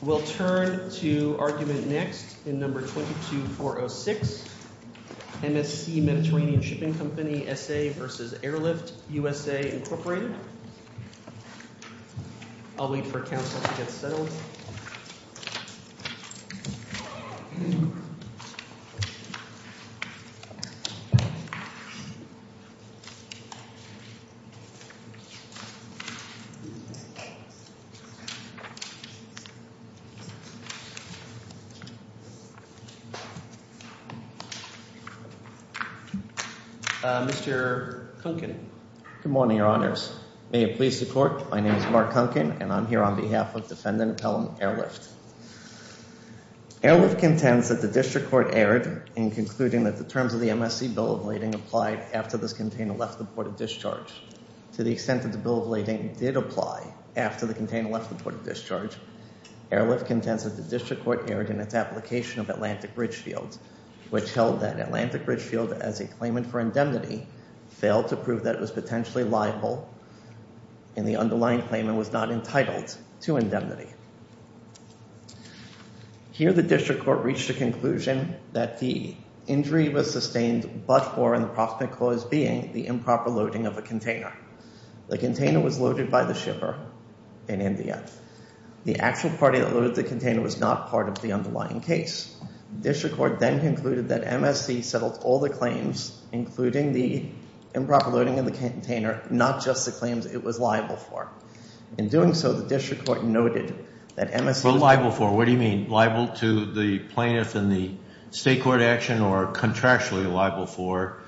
We'll turn to argument next in No. 22-406, MSC Mediterranean Shipping Company S.A. v. Airlift USA, Incorporated. I'll wait for counsel to get settled. Mr. Kunkin. Good morning, Your Honors. May it please the Court, my name is Mark Kunkin and I'm here on behalf of Defendant Appellant Airlift. Airlift contends that the District Court erred in concluding that the terms of the MSC bill of lading applied after this container left the port of discharge. To the extent that the bill of lading did apply after the container left the port of discharge, Airlift contends that the District Court erred in its application of Atlantic Ridge Field, which held that Atlantic Ridge Field, as a claimant for indemnity, failed to prove that it was potentially liable and the underlying claimant was not entitled to indemnity. Here the District Court reached a conclusion that the injury was sustained but for an approximate cause being the improper loading of a container. The container was loaded by the shipper in India. The actual party that loaded the container was not part of the underlying case. The District Court then concluded that MSC settled all the claims, including the improper loading of the container, not just the claims it was liable for. In doing so, the District Court noted that MSC... What liable for? What do you mean? Liable to the plaintiff in the state court action or contractually liable for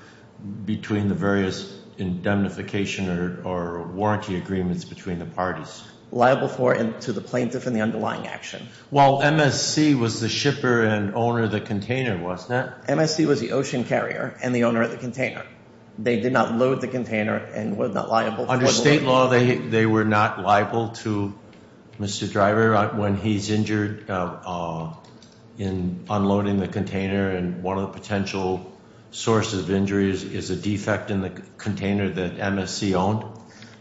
between the various indemnification or warranty agreements between the parties? Liable for and to the plaintiff in the underlying action. Well, MSC was the shipper and owner of the container, wasn't it? MSC was the ocean carrier and the owner of the container. They did not load the container and were not liable for... Under state law, they were not liable to Mr. Driver when he's injured in unloading the container and one of the potential sources of injuries is a defect in the container that MSC owned?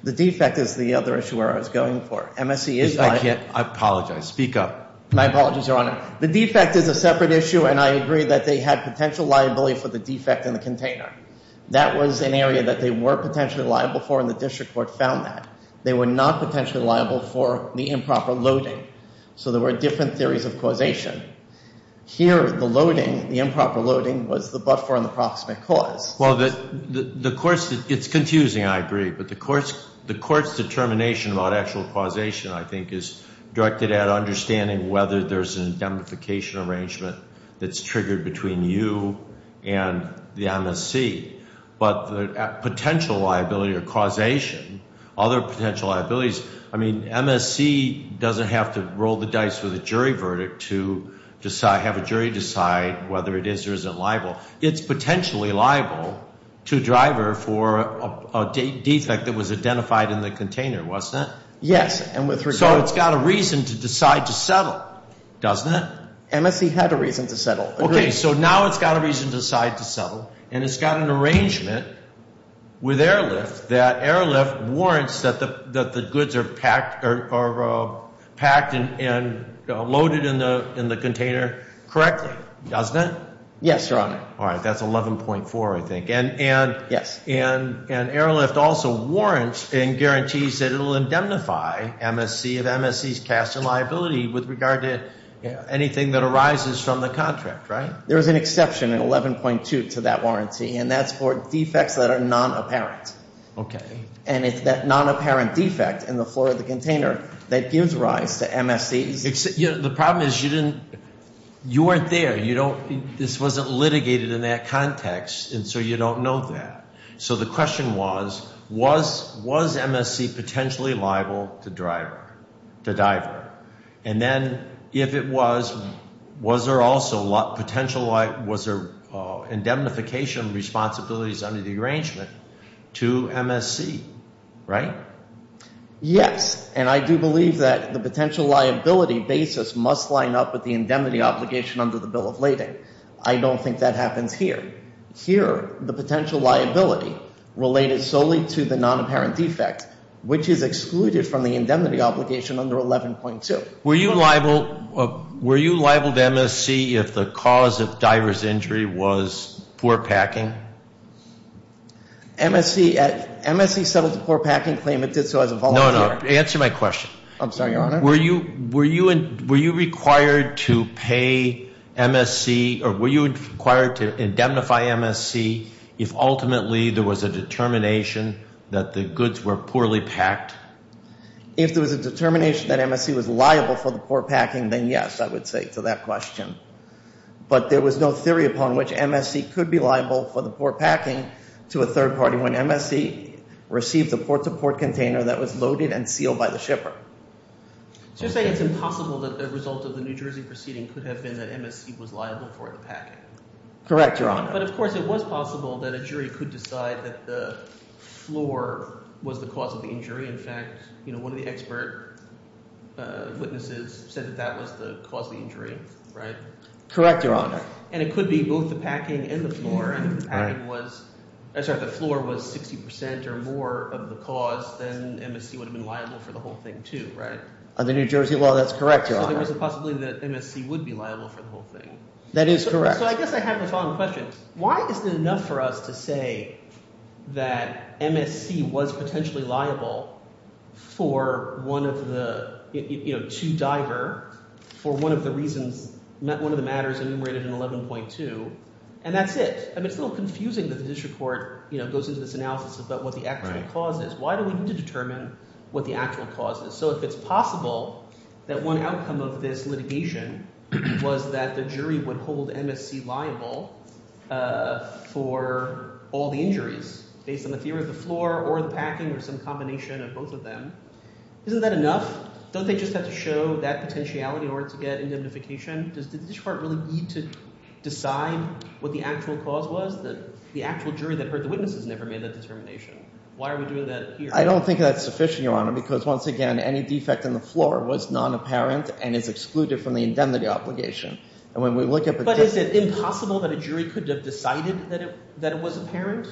The defect is the other issue where I was going for. MSC is liable... I apologize. Speak up. My apologies, Your Honor. The defect is a separate issue and I agree that they had potential liability for the defect in the container. That was an area that they were potentially liable for and the District Court found that. They were not potentially liable for the improper loading, so there were different theories of causation. Here, the loading, the improper loading, was the but-for and the proximate cause. Well, it's confusing, I agree, but the court's determination about actual causation, I think, is directed at understanding whether there's an indemnification arrangement that's triggered between you and the MSC. But the potential liability or causation, other potential liabilities, I mean, MSC doesn't have to roll the dice with a jury verdict to have a jury decide whether it is or isn't liable. It's potentially liable to a driver for a defect that was identified in the container, wasn't it? Yes, and with regard... So it's got a reason to decide to settle, doesn't it? MSC had a reason to settle. Agreed. Okay, so now it's got a reason to decide to settle and it's got an arrangement with Airlift that Airlift warrants that the goods are packed and loaded in the container correctly, doesn't it? Yes, Your Honor. All right, that's 11.4, I think. Yes. And Airlift also warrants and guarantees that it will indemnify MSC of MSC's cast and liability with regard to anything that arises from the contract, right? There is an exception in 11.2 to that warranty, and that's for defects that are non-apparent. Okay. And it's that non-apparent defect in the floor of the container that gives rise to MSC's... The problem is you weren't there. This wasn't litigated in that context, and so you don't know that. So the question was, was MSC potentially liable to the driver? And then if it was, was there indemnification responsibilities under the arrangement to MSC, right? Yes, and I do believe that the potential liability basis must line up with the indemnity obligation under the bill of lading. I don't think that happens here. Here, the potential liability related solely to the non-apparent defect, which is excluded from the indemnity obligation under 11.2. Were you liable to MSC if the cause of driver's injury was poor packing? MSC settled the poor packing claim. It did so as a volunteer. No, no. Answer my question. I'm sorry, Your Honor. Were you required to pay MSC or were you required to indemnify MSC if ultimately there was a determination that the goods were poorly packed? If there was a determination that MSC was liable for the poor packing, then yes, I would say to that question. But there was no theory upon which MSC could be liable for the poor packing to a third party when MSC received a port-to-port container that was loaded and sealed by the shipper. So you're saying it's impossible that the result of the New Jersey proceeding could have been that MSC was liable for the packing? Correct, Your Honor. But, of course, it was possible that a jury could decide that the floor was the cause of the injury. In fact, one of the expert witnesses said that that was the cause of the injury, right? Correct, Your Honor. And it could be both the packing and the floor, and if the packing was – I'm sorry, if the floor was 60 percent or more of the cause, then MSC would have been liable for the whole thing too, right? Under New Jersey law, that's correct, Your Honor. So there was a possibility that MSC would be liable for the whole thing. That is correct. So I guess I have the following question. Why is it enough for us to say that MSC was potentially liable for one of the – to diver for one of the reasons – one of the matters enumerated in 11.2, and that's it? I mean it's a little confusing that the district court goes into this analysis about what the actual cause is. Why do we need to determine what the actual cause is? So if it's possible that one outcome of this litigation was that the jury would hold MSC liable for all the injuries based on the theory of the floor or the packing or some combination of both of them, isn't that enough? Don't they just have to show that potentiality in order to get indemnification? Does the district court really need to decide what the actual cause was? The actual jury that heard the witnesses never made that determination. Why are we doing that here? I don't think that's sufficient, Your Honor, because once again any defect in the floor was non-apparent and is excluded from the indemnity obligation. And when we look at the – But is it impossible that a jury could have decided that it was apparent?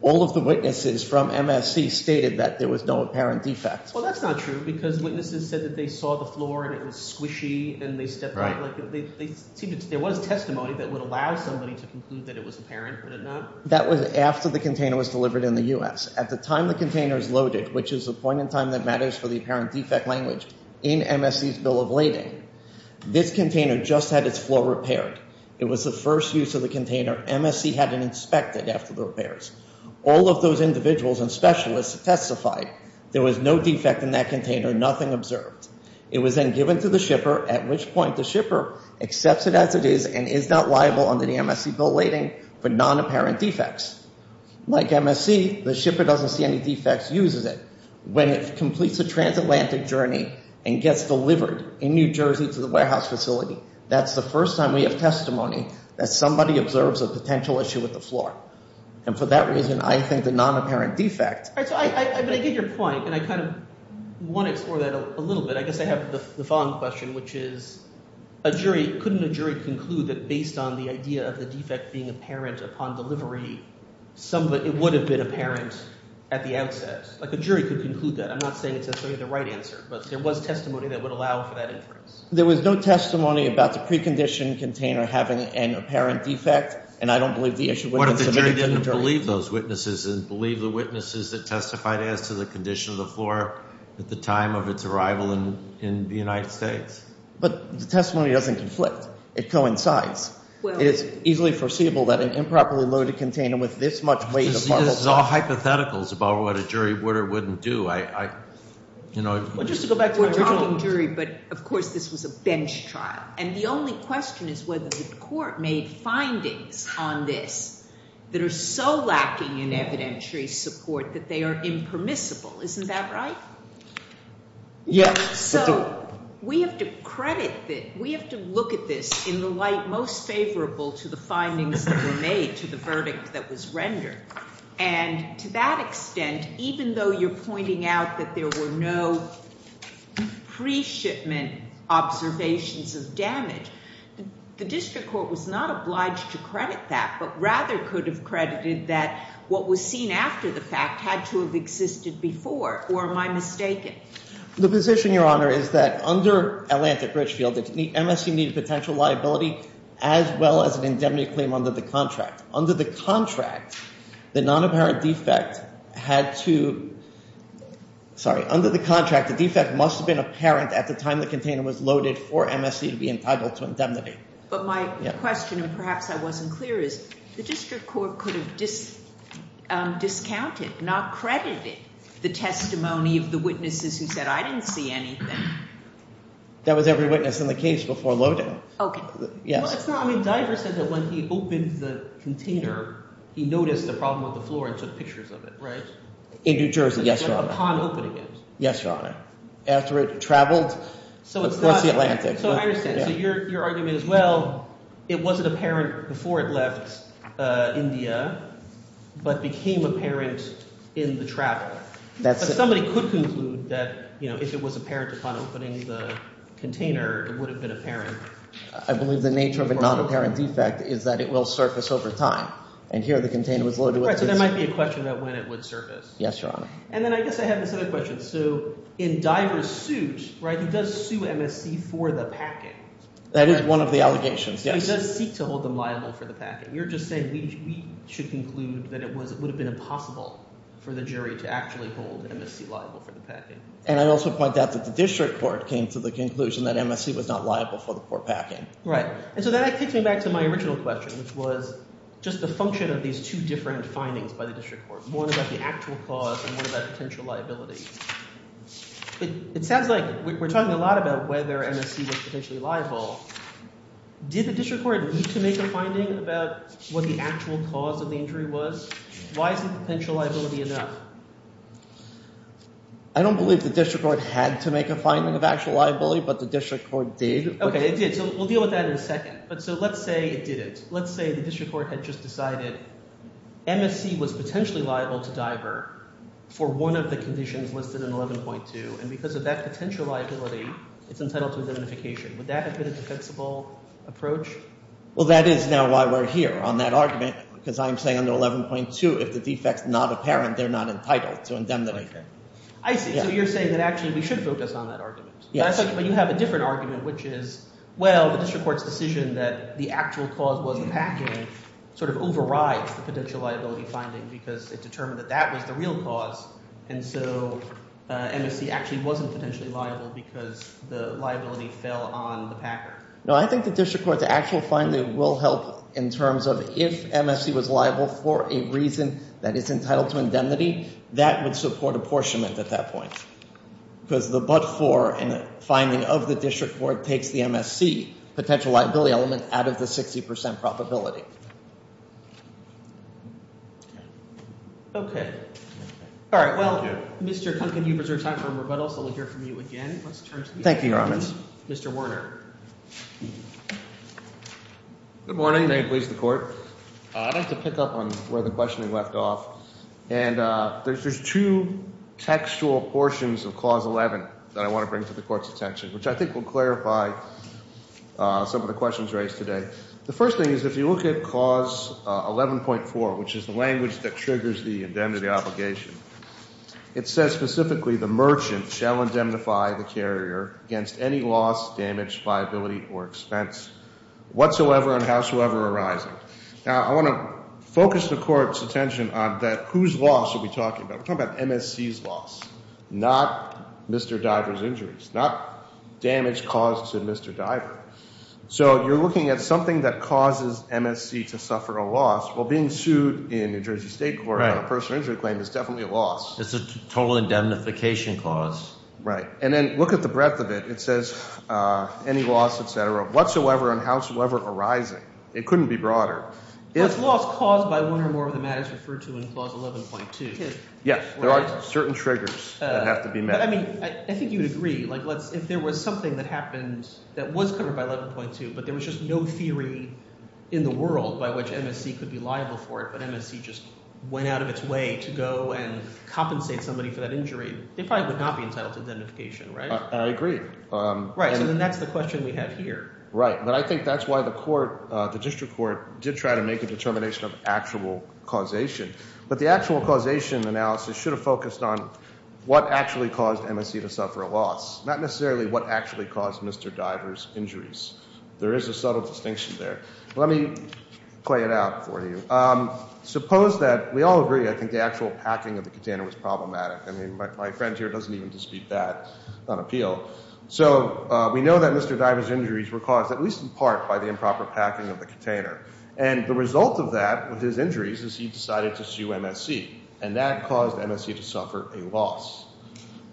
All of the witnesses from MSC stated that there was no apparent defect. Well, that's not true because witnesses said that they saw the floor and it was squishy and they stepped – Right. That was after the container was delivered in the U.S. At the time the container is loaded, which is the point in time that matters for the apparent defect language in MSC's bill of lading, this container just had its floor repaired. It was the first use of the container. MSC had it inspected after the repairs. All of those individuals and specialists testified there was no defect in that container, nothing observed. It was then given to the shipper, at which point the shipper accepts it as it is and is not liable under the MSC bill of lading for non-apparent defects. Like MSC, the shipper doesn't see any defects, uses it. When it completes a transatlantic journey and gets delivered in New Jersey to the warehouse facility, that's the first time we have testimony that somebody observes a potential issue with the floor. And for that reason, I think the non-apparent defect – So I get your point, and I kind of want to explore that a little bit. I guess I have the following question, which is a jury – couldn't a jury conclude that based on the idea of the defect being apparent upon delivery, it would have been apparent at the outset? Like a jury could conclude that. I'm not saying it's necessarily the right answer, but there was testimony that would allow for that inference. There was no testimony about the preconditioned container having an apparent defect, and I don't believe the issue would have been submitted to the jury. I believe those witnesses and believe the witnesses that testified as to the condition of the floor at the time of its arrival in the United States. But the testimony doesn't conflict. It coincides. It is easily foreseeable that an improperly loaded container with this much weight of marble – This is all hypotheticals about what a jury would or wouldn't do. Well, just to go back to what you're talking – We're talking jury, but of course this was a bench trial, and the only question is whether the court made findings on this that are so lacking in evidentiary support that they are impermissible. Isn't that right? Yes. So we have to credit – we have to look at this in the light most favorable to the findings that were made to the verdict that was rendered. And to that extent, even though you're pointing out that there were no pre-shipment observations of damage, the district court was not obliged to credit that but rather could have credited that what was seen after the fact had to have existed before. Or am I mistaken? The position, Your Honor, is that under Atlantic Richfield, MSC needed potential liability as well as an indemnity claim under the contract. Under the contract, the non-apparent defect had to – sorry. Under the contract, the defect must have been apparent at the time the container was loaded for MSC to be entitled to indemnity. But my question, and perhaps I wasn't clear, is the district court could have discounted, not credited, the testimony of the witnesses who said I didn't see anything. That was every witness in the case before loading. Okay. Well, it's not – I mean, Diver said that when he opened the container, he noticed the problem with the floor and took pictures of it, right? In New Jersey, yes, Your Honor. Upon opening it. Yes, Your Honor. After it traveled across the Atlantic. So I understand. So your argument as well, it wasn't apparent before it left India but became apparent in the travel. That's – But somebody could conclude that if it was apparent upon opening the container, it would have been apparent. I believe the nature of a non-apparent defect is that it will surface over time. And here the container was loaded with – Right. So there might be a question about when it would surface. Yes, Your Honor. And then I guess I have this other question. So in Diver's suit, right, he does sue MSC for the packing. That is one of the allegations, yes. So he does seek to hold them liable for the packing. You're just saying we should conclude that it would have been impossible for the jury to actually hold MSC liable for the packing. And I also point out that the district court came to the conclusion that MSC was not liable for the poor packing. Right. And so that takes me back to my original question, which was just the function of these two different findings by the district court. One about the actual cause and one about potential liability. But it sounds like we're talking a lot about whether MSC was potentially liable. Did the district court need to make a finding about what the actual cause of the injury was? Why isn't the potential liability enough? I don't believe the district court had to make a finding of actual liability, but the district court did. Okay, it did. So we'll deal with that in a second. But so let's say it didn't. Let's say the district court had just decided MSC was potentially liable to divert for one of the conditions listed in 11.2. And because of that potential liability, it's entitled to indemnification. Would that have been a defensible approach? Well, that is now why we're here on that argument, because I'm saying under 11.2, if the defect's not apparent, they're not entitled to indemnification. I see. So you're saying that actually we should focus on that argument. Yes. But you have a different argument, which is, well, the district court's decision that the actual cause was the packing sort of overrides the potential liability finding because it determined that that was the real cause. And so MSC actually wasn't potentially liable because the liability fell on the packing. No, I think the district court's actual finding will help in terms of if MSC was liable for a reason that is entitled to indemnity, that would support apportionment at that point. Because the but-for in the finding of the district court takes the MSC potential liability element out of the 60 percent probability. Okay. All right. Well, Mr. Kunken, you've reserved time for a rebuttal, so we'll hear from you again. Let's turn to Mr. Werner. Good morning. May it please the court. I'd like to pick up on where the questioning left off. And there's two textual portions of Clause 11 that I want to bring to the court's attention, which I think will clarify some of the questions raised today. The first thing is if you look at Clause 11.4, which is the language that triggers the indemnity obligation, it says specifically, the merchant shall indemnify the carrier against any loss, damage, liability, or expense whatsoever and howsoever arising. Now, I want to focus the court's attention on that whose loss are we talking about? We're talking about MSC's loss, not Mr. Diver's injuries, not damage caused to Mr. Diver. So you're looking at something that causes MSC to suffer a loss. Well, being sued in New Jersey State Court on a personal injury claim is definitely a loss. It's a total indemnification clause. Right. And then look at the breadth of it. It says any loss, et cetera, whatsoever and howsoever arising. It couldn't be broader. Well, it's loss caused by one or more of the matters referred to in Clause 11.2. Yeah. There are certain triggers that have to be met. But I mean I think you would agree. Like let's – if there was something that happened that was covered by 11.2, but there was just no theory in the world by which MSC could be liable for it, but MSC just went out of its way to go and compensate somebody for that injury, they probably would not be entitled to indemnification, right? I agree. Right. So then that's the question we have here. Right. But I think that's why the court – the district court did try to make a determination of actual causation. But the actual causation analysis should have focused on what actually caused MSC to suffer a loss, not necessarily what actually caused Mr. Diver's injuries. There is a subtle distinction there. Let me play it out for you. Suppose that – we all agree I think the actual packing of the container was problematic. I mean my friend here doesn't even dispute that on appeal. So we know that Mr. Diver's injuries were caused at least in part by the improper packing of the container. And the result of that with his injuries is he decided to sue MSC. And that caused MSC to suffer a loss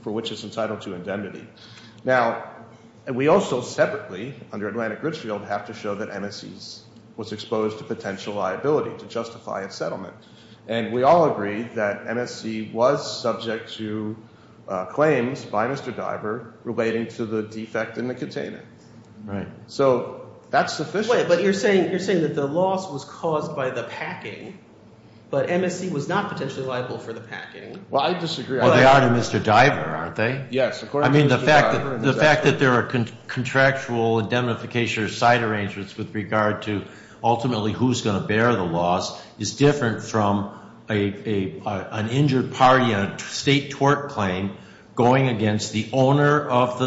for which it's entitled to indemnity. Now we also separately under Atlantic Gridsfield have to show that MSC was exposed to potential liability to justify its settlement. And we all agree that MSC was subject to claims by Mr. Diver relating to the defect in the container. Right. So that's sufficient. But you're saying that the loss was caused by the packing, but MSC was not potentially liable for the packing. Well, I disagree. Well, they are to Mr. Diver, aren't they? Yes. I mean the fact that there are contractual indemnification or side arrangements with regard to ultimately who's going to bear the loss is different from an injured party on a state tort claim going against the owner of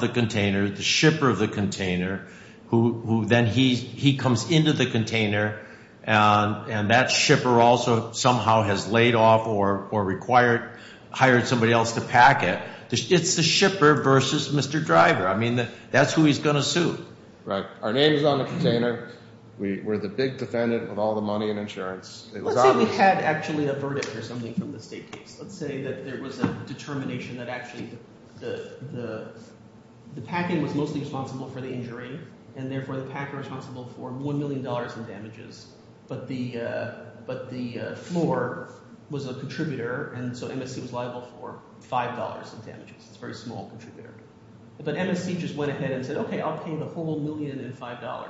the container, the shipper of the container, who then he comes into the container and that shipper also somehow has laid off or hired somebody else to pack it. It's the shipper versus Mr. Diver. I mean that's who he's going to sue. Right. Our name is on the container. We're the big defendant with all the money and insurance. Let's say we had actually a verdict or something from the state case. Let's say that there was a determination that actually the packing was mostly responsible for the injury, and therefore the packer responsible for $1 million in damages, but the floor was a contributor, and so MSC was liable for $5 in damages. It's a very small contributor. But MSC just went ahead and said, okay, I'll pay you the full $1 million and $5.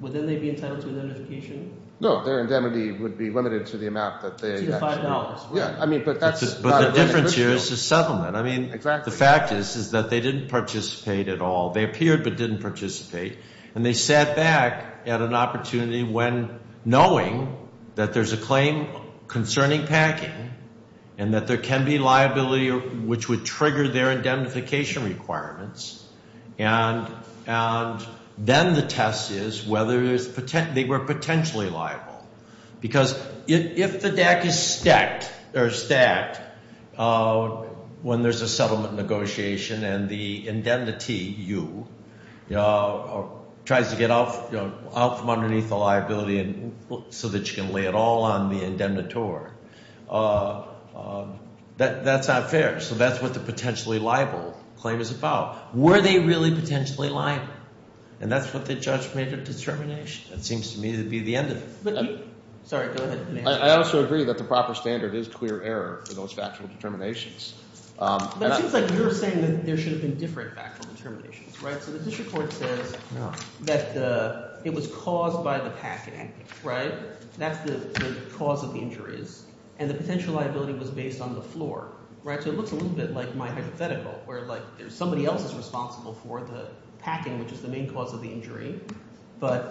Would then they be entitled to indemnification? No, their indemnity would be limited to the amount that they actually – To the $5. Yeah, I mean but that's – But the difference here is the settlement. I mean the fact is is that they didn't participate at all. They appeared but didn't participate, and they sat back at an opportunity when knowing that there's a claim concerning packing and that there can be liability which would trigger their indemnification requirements, and then the test is whether they were potentially liable. Because if the deck is stacked when there's a settlement negotiation and the indemnity, you, tries to get out from underneath the liability so that you can lay it all on the indemnitor, that's not fair. So that's what the potentially liable claim is about. Were they really potentially liable? And that's what the judge made a determination. That seems to me to be the end of it. Sorry, go ahead. I also agree that the proper standard is clear error for those factual determinations. That seems like you're saying that there should have been different factual determinations, right? So the district court says that it was caused by the packing, right? That's the cause of the injuries, and the potential liability was based on the floor. So it looks a little bit like my hypothetical where, like, somebody else is responsible for the packing, which is the main cause of the injury, but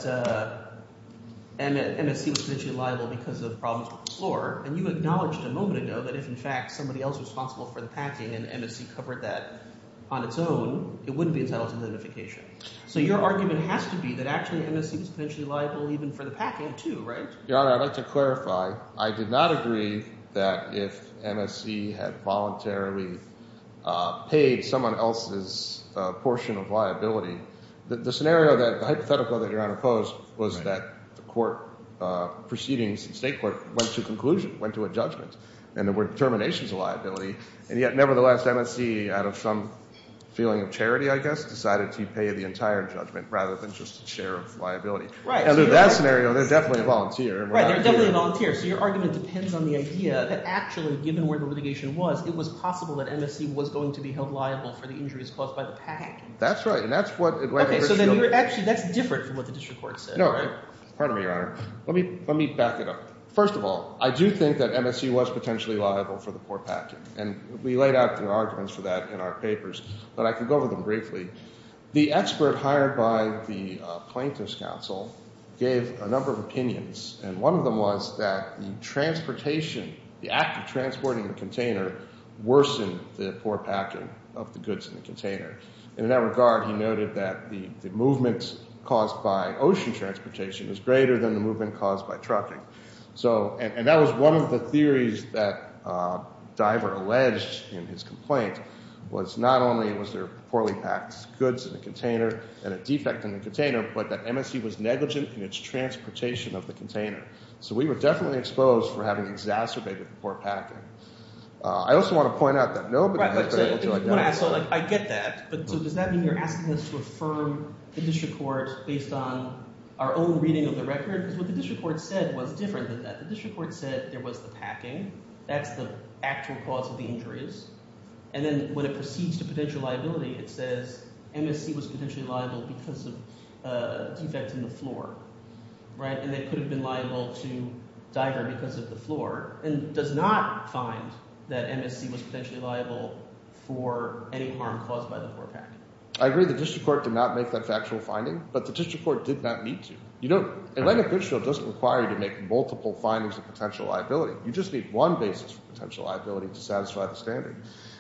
MSC was potentially liable because of problems with the floor, and you acknowledged a moment ago that if, in fact, somebody else was responsible for the packing and MSC covered that on its own, it wouldn't be entitled to identification. So your argument has to be that actually MSC was potentially liable even for the packing too, right? Your Honor, I'd like to clarify. I did not agree that if MSC had voluntarily paid someone else's portion of liability. The scenario that the hypothetical that Your Honor posed was that the court proceedings in state court went to conclusion, went to a judgment, and there were determinations of liability, and yet nevertheless MSC out of some feeling of charity, I guess, decided to pay the entire judgment rather than just a share of liability. Right. Under that scenario, they're definitely a volunteer. Right. They're definitely a volunteer. So your argument depends on the idea that actually given where the litigation was, it was possible that MSC was going to be held liable for the injuries caused by the packing. That's right, and that's what it was. Okay. So then actually that's different from what the district court said, right? No. Pardon me, Your Honor. Let me back it up. First of all, I do think that MSC was potentially liable for the poor packing, and we laid out the arguments for that in our papers, but I can go over them briefly. The expert hired by the plaintiff's counsel gave a number of opinions, and one of them was that the transportation, the act of transporting the container, worsened the poor packing of the goods in the container. And in that regard, he noted that the movement caused by ocean transportation was greater than the movement caused by trucking. And that was one of the theories that Diver alleged in his complaint, was not only was there poorly packed goods in the container and a defect in the container, but that MSC was negligent in its transportation of the container. So we were definitely exposed for having exacerbated the poor packing. I get that, but does that mean you're asking us to affirm the district court based on our own reading of the record? Because what the district court said was different than that. The district court said there was the packing. That's the actual cause of the injuries. And then when it proceeds to potential liability, it says MSC was potentially liable because of a defect in the floor, right? And they could have been liable to Diver because of the floor and does not find that MSC was potentially liable for any harm caused by the poor packing. I agree the district court did not make that factual finding, but the district court did not need to. Atlanta-Pitchfield doesn't require you to make multiple findings of potential liability. You just need one basis for potential liability to satisfy the standing.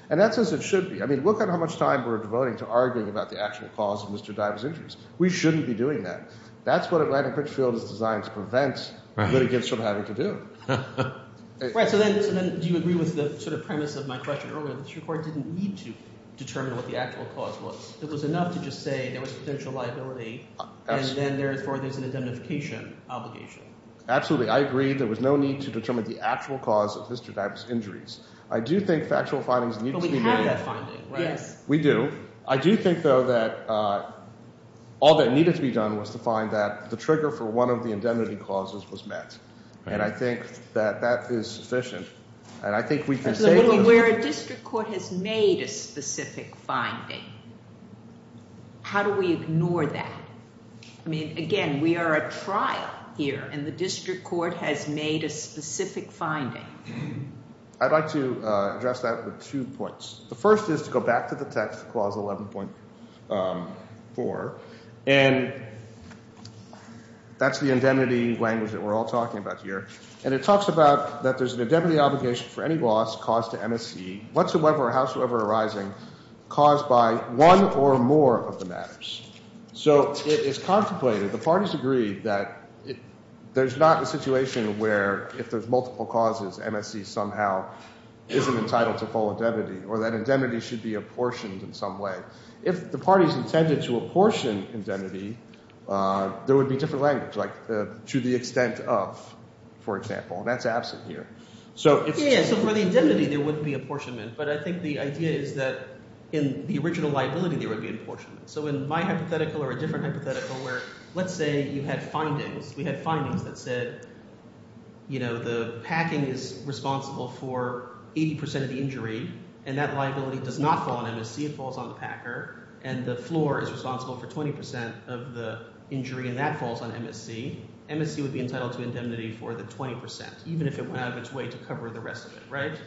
And that's as it should be. I mean look at how much time we're devoting to arguing about the actual cause of Mr. Diver's injuries. We shouldn't be doing that. That's what Atlanta-Pitchfield is designed to prevent litigants from having to do. Right. So then do you agree with the sort of premise of my question earlier? The district court didn't need to determine what the actual cause was. It was enough to just say there was potential liability and then therefore there's an identification obligation. Absolutely. I agree there was no need to determine the actual cause of Mr. Diver's injuries. I do think factual findings need to be made. But we have that finding, right? We do. I do think, though, that all that needed to be done was to find that the trigger for one of the indemnity clauses was met. And I think that that is sufficient. And I think we can say— But we're aware a district court has made a specific finding. How do we ignore that? I mean, again, we are at trial here, and the district court has made a specific finding. I'd like to address that with two points. The first is to go back to the text clause 11.4, and that's the indemnity language that we're all talking about here. And it talks about that there's an indemnity obligation for any loss caused to MSC whatsoever or howsoever arising caused by one or more of the matters. So it is contemplated, the parties agree, that there's not a situation where if there's multiple causes, MSC somehow isn't entitled to full indemnity or that indemnity should be apportioned in some way. If the parties intended to apportion indemnity, there would be different language, like to the extent of, for example. That's absent here. So it's— Yeah, so for the indemnity, there wouldn't be apportionment. But I think the idea is that in the original liability, there would be apportionment. So in my hypothetical or a different hypothetical where let's say you had findings, we had findings that said the packing is responsible for 80 percent of the injury, and that liability does not fall on MSC. It falls on the packer, and the floor is responsible for 20 percent of the injury, and that falls on MSC. MSC would be entitled to indemnity for the 20 percent, even if it went out of its way to cover the rest of it.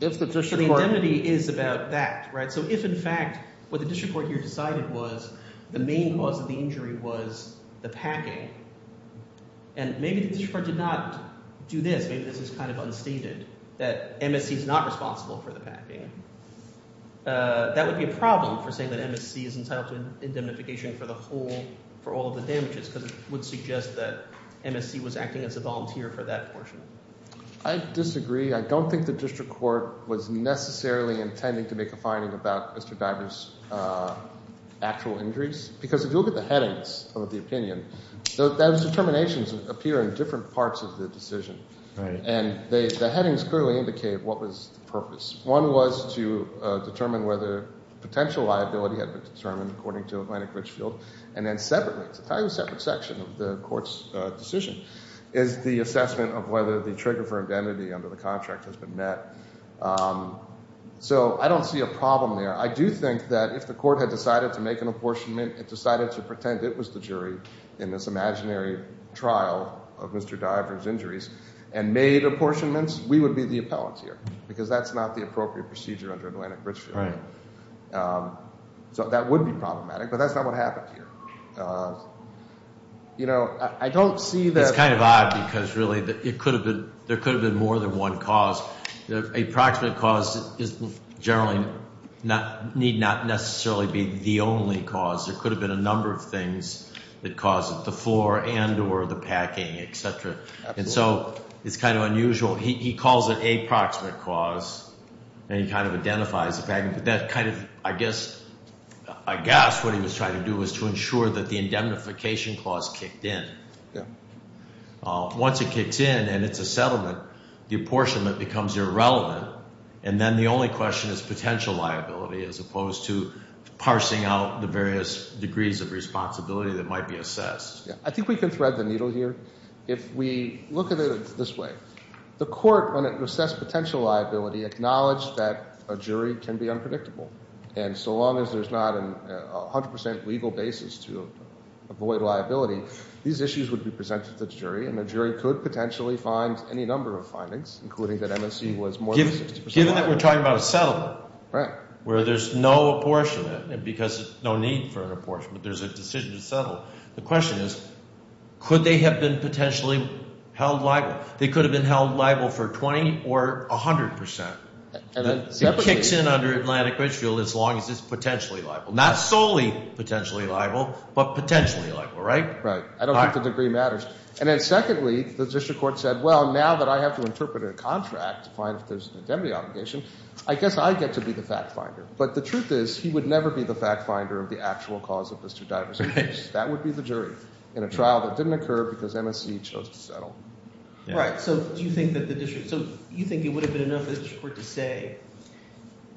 The indemnity is about that. So if, in fact, what the district court here decided was the main cause of the injury was the packing, and maybe the district court did not do this, maybe this is kind of unstated, that MSC is not responsible for the packing, that would be a problem for saying that MSC is entitled to indemnification for the whole—for all of the damages because it would suggest that MSC was acting as a volunteer for that portion. I disagree. I don't think the district court was necessarily intending to make a finding about Mr. Bagger's actual injuries because if you look at the headings of the opinion, those determinations appear in different parts of the decision. And the headings clearly indicate what was the purpose. One was to determine whether potential liability had been determined according to Atlantic Richfield, and then separately, to tell you a separate section of the court's decision, is the assessment of whether the trigger for indemnity under the contract has been met. So I don't see a problem there. I do think that if the court had decided to make an apportionment, it decided to pretend it was the jury in this imaginary trial of Mr. Diver's injuries, and made apportionments, we would be the appellant here because that's not the appropriate procedure under Atlantic Richfield. So that would be problematic, but that's not what happened here. It's kind of odd because really there could have been more than one cause. The approximate cause generally need not necessarily be the only cause. There could have been a number of things that caused it, the floor and or the packing, et cetera. And so it's kind of unusual. He calls it a proximate cause, and he kind of identifies the packing, but that kind of, I guess what he was trying to do was to ensure that the indemnification clause kicked in. Once it kicks in and it's a settlement, the apportionment becomes irrelevant, and then the only question is potential liability as opposed to parsing out the various degrees of responsibility that might be assessed. I think we can thread the needle here. If we look at it this way, the court, when it assessed potential liability, acknowledged that a jury can be unpredictable, and so long as there's not a 100 percent legal basis to avoid liability, these issues would be presented to the jury, and the jury could potentially find any number of findings, including that MSC was more than 60 percent liable. Given that we're talking about a settlement where there's no apportionment, because there's no need for an apportionment, there's a decision to settle, the question is could they have been potentially held liable? They could have been held liable for 20 or 100 percent. It kicks in under Atlantic Ridgefield as long as it's potentially liable. Not solely potentially liable, but potentially liable, right? Right. I don't think the degree matters. And then secondly, the district court said, well, now that I have to interpret a contract to find if there's an indemnity obligation, I guess I get to be the fact finder. But the truth is he would never be the fact finder of the actual cause of Mr. Dyer's case. That would be the jury in a trial that didn't occur because MSC chose to settle. Right. So do you think that the district – so you think it would have been enough for the district court to say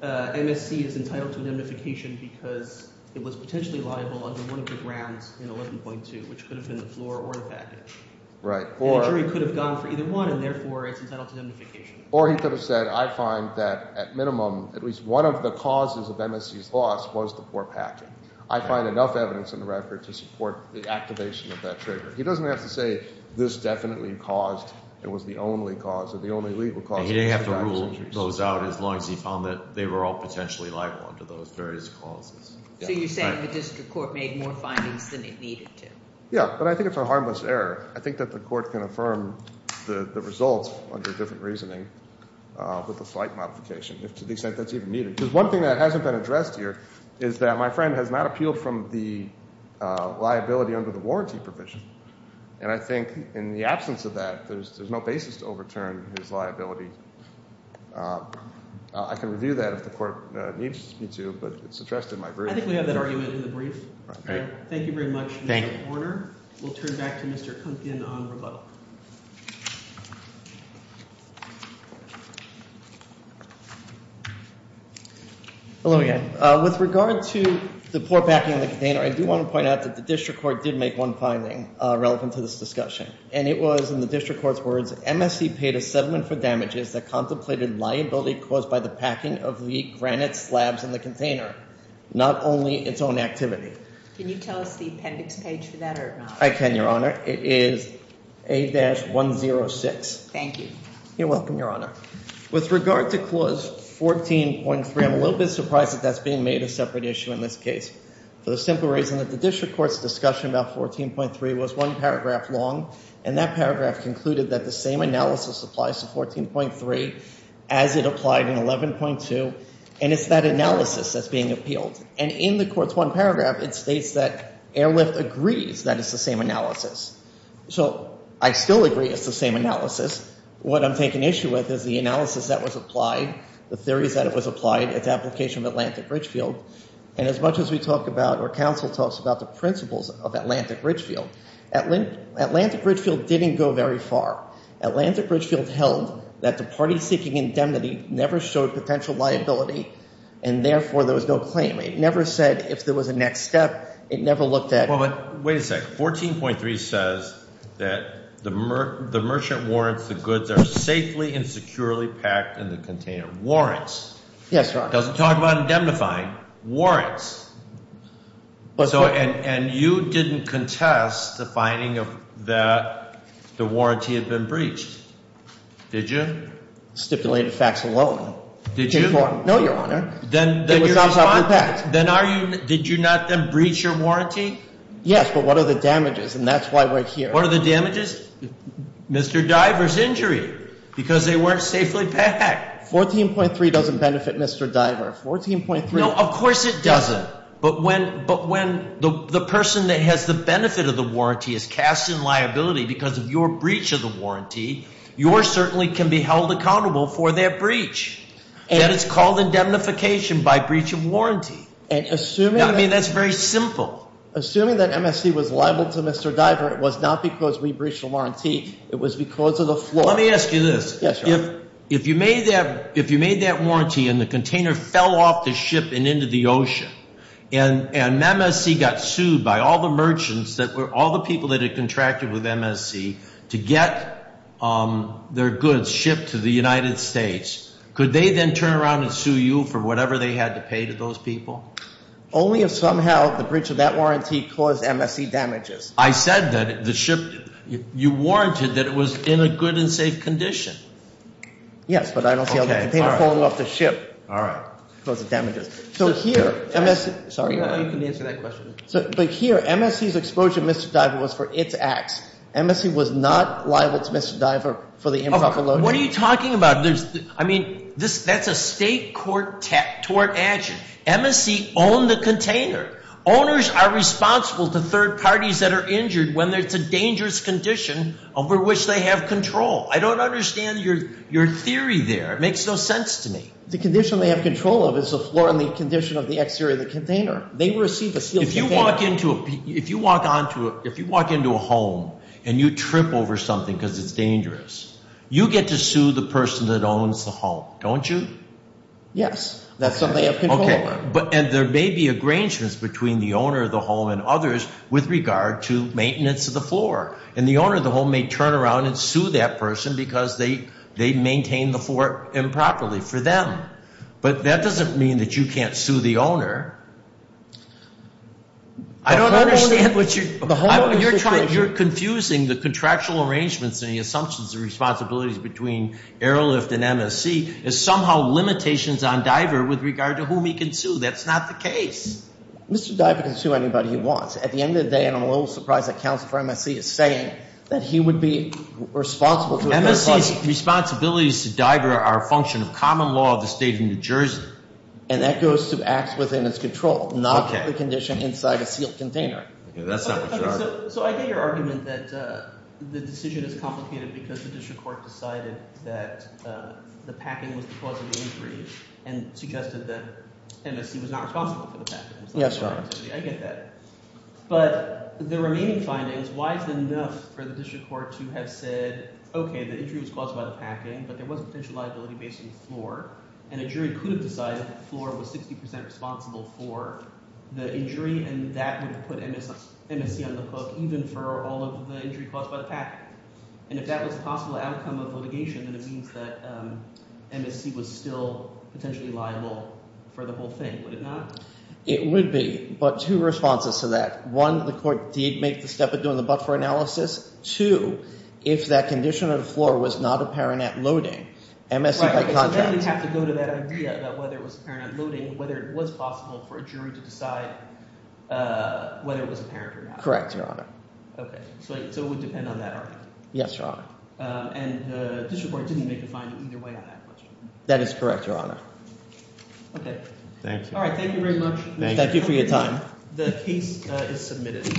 MSC is entitled to indemnification because it was potentially liable under one of the grounds in 11.2, which could have been the floor or the package. Right. And the jury could have gone for either one, and therefore it's entitled to indemnification. Or he could have said I find that at minimum at least one of the causes of MSC's loss was the poor package. I find enough evidence in the record to support the activation of that trigger. He doesn't have to say this definitely caused – it was the only cause or the only legal cause of Mr. Dyer's injuries. And he didn't have to rule those out as long as he found that they were all potentially liable under those various causes. So you're saying the district court made more findings than it needed to. Yeah, but I think it's a harmless error. I think that the court can affirm the results under different reasoning with a slight modification if to the extent that's even needed. Because one thing that hasn't been addressed here is that my friend has not appealed from the liability under the warranty provision. And I think in the absence of that, there's no basis to overturn his liability. I can review that if the court needs me to, but it's addressed in my brief. I think we have that argument in the brief. Thank you very much, Mr. Horner. We'll turn back to Mr. Kumpkin on rebuttal. Hello again. With regard to the poor packing of the container, I do want to point out that the district court did make one finding relevant to this discussion. And it was, in the district court's words, MSC paid a settlement for damages that contemplated liability caused by the packing of the granite slabs in the container, not only its own activity. Can you tell us the appendix page for that or not? I can, Your Honor. It is A-106. Thank you. You're welcome, Your Honor. With regard to Clause 14.3, I'm a little bit surprised that that's being made a separate issue in this case for the simple reason that the district court's discussion about 14.3 was one paragraph long. And that paragraph concluded that the same analysis applies to 14.3 as it applied in 11.2, and it's that analysis that's being appealed. And in the court's one paragraph, it states that Airlift agrees that it's the same analysis. So I still agree it's the same analysis. What I'm taking issue with is the analysis that was applied, the theories that it was applied, its application of Atlantic Ridgefield. And as much as we talk about or counsel talks about the principles of Atlantic Ridgefield, Atlantic Ridgefield didn't go very far. Atlantic Ridgefield held that the party seeking indemnity never showed potential liability and, therefore, there was no claim. It never said if there was a next step. It never looked at – Wait a second. 14.3 says that the merchant warrants the goods are safely and securely packed in the container. Warrants. Yes, Your Honor. It doesn't talk about indemnifying. Warrants. And you didn't contest the finding that the warranty had been breached. Did you? Stipulated facts alone. No, Your Honor. Then are you – did you not then breach your warranty? Yes, but what are the damages? And that's why we're here. What are the damages? Mr. Diver's injury because they weren't safely packed. 14.3 doesn't benefit Mr. Diver. 14.3 – No, of course it doesn't. But when the person that has the benefit of the warranty is cast in liability because of your breach of the warranty, yours certainly can be held accountable for that breach. That is called indemnification by breach of warranty. Assuming – I mean, that's very simple. Assuming that MSC was liable to Mr. Diver, it was not because we breached the warranty. It was because of the floor. Let me ask you this. Yes, Your Honor. If you made that warranty and the container fell off the ship and into the ocean and MSC got sued by all the merchants that were – all the people that had contracted with MSC to get their goods shipped to the United States, could they then turn around and sue you for whatever they had to pay to those people? Only if somehow the breach of that warranty caused MSC damages. I said that the ship – you warranted that it was in a good and safe condition. Yes, but I don't see how the container falling off the ship caused the damages. So here – You can answer that question. But here, MSC's exposure to Mr. Diver was for its acts. MSC was not liable to Mr. Diver for the improper loading. What are you talking about? I mean, that's a state court action. MSC owned the container. Owners are responsible to third parties that are injured when there's a dangerous condition over which they have control. I don't understand your theory there. It makes no sense to me. The condition they have control of is the floor and the condition of the exterior of the container. They received a sealed container. If you walk into a – if you walk onto a – if you walk into a home and you trip over something because it's dangerous, you get to sue the person that owns the home, don't you? Yes. That's something they have control over. Okay. And there may be arrangements between the owner of the home and others with regard to maintenance of the floor. And the owner of the home may turn around and sue that person because they maintained the floor improperly for them. But that doesn't mean that you can't sue the owner. I don't understand what you're – You're confusing the contractual arrangements and the assumptions and responsibilities between Airlift and MSC as somehow limitations on Diver with regard to whom he can sue. That's not the case. Mr. Diver can sue anybody he wants. At the end of the day, I'm a little surprised that counsel for MSC is saying that he would be responsible to – MSC's responsibilities to Diver are a function of common law of the state of New Jersey. And that goes to acts within its control, not the condition inside a sealed container. That's not what you're arguing. So I get your argument that the decision is complicated because the district court decided that the packing was the cause of the injury and suggested that MSC was not responsible for the packing. Yes, Your Honor. I get that. But the remaining findings, why is it enough for the district court to have said, okay, the injury was caused by the packing, but there was potential liability based on the floor, and a jury could have decided that the floor was 60 percent responsible for the injury and that would have put MSC on the hook even for all of the injury caused by the packing. And if that was a possible outcome of litigation, then it means that MSC was still potentially liable for the whole thing, would it not? It would be, but two responses to that. One, the court did make the step of doing the Buckford analysis. Two, if that condition of the floor was not apparent at loading, MSC by contract – Right, so then we have to go to that idea about whether it was apparent at loading, whether it was possible for a jury to decide whether it was apparent or not. Correct, Your Honor. Okay, so it would depend on that argument? Yes, Your Honor. And the district court didn't make a finding either way on that question? That is correct, Your Honor. Okay. Thank you. All right, thank you very much. Thank you for your time. The case is submitted.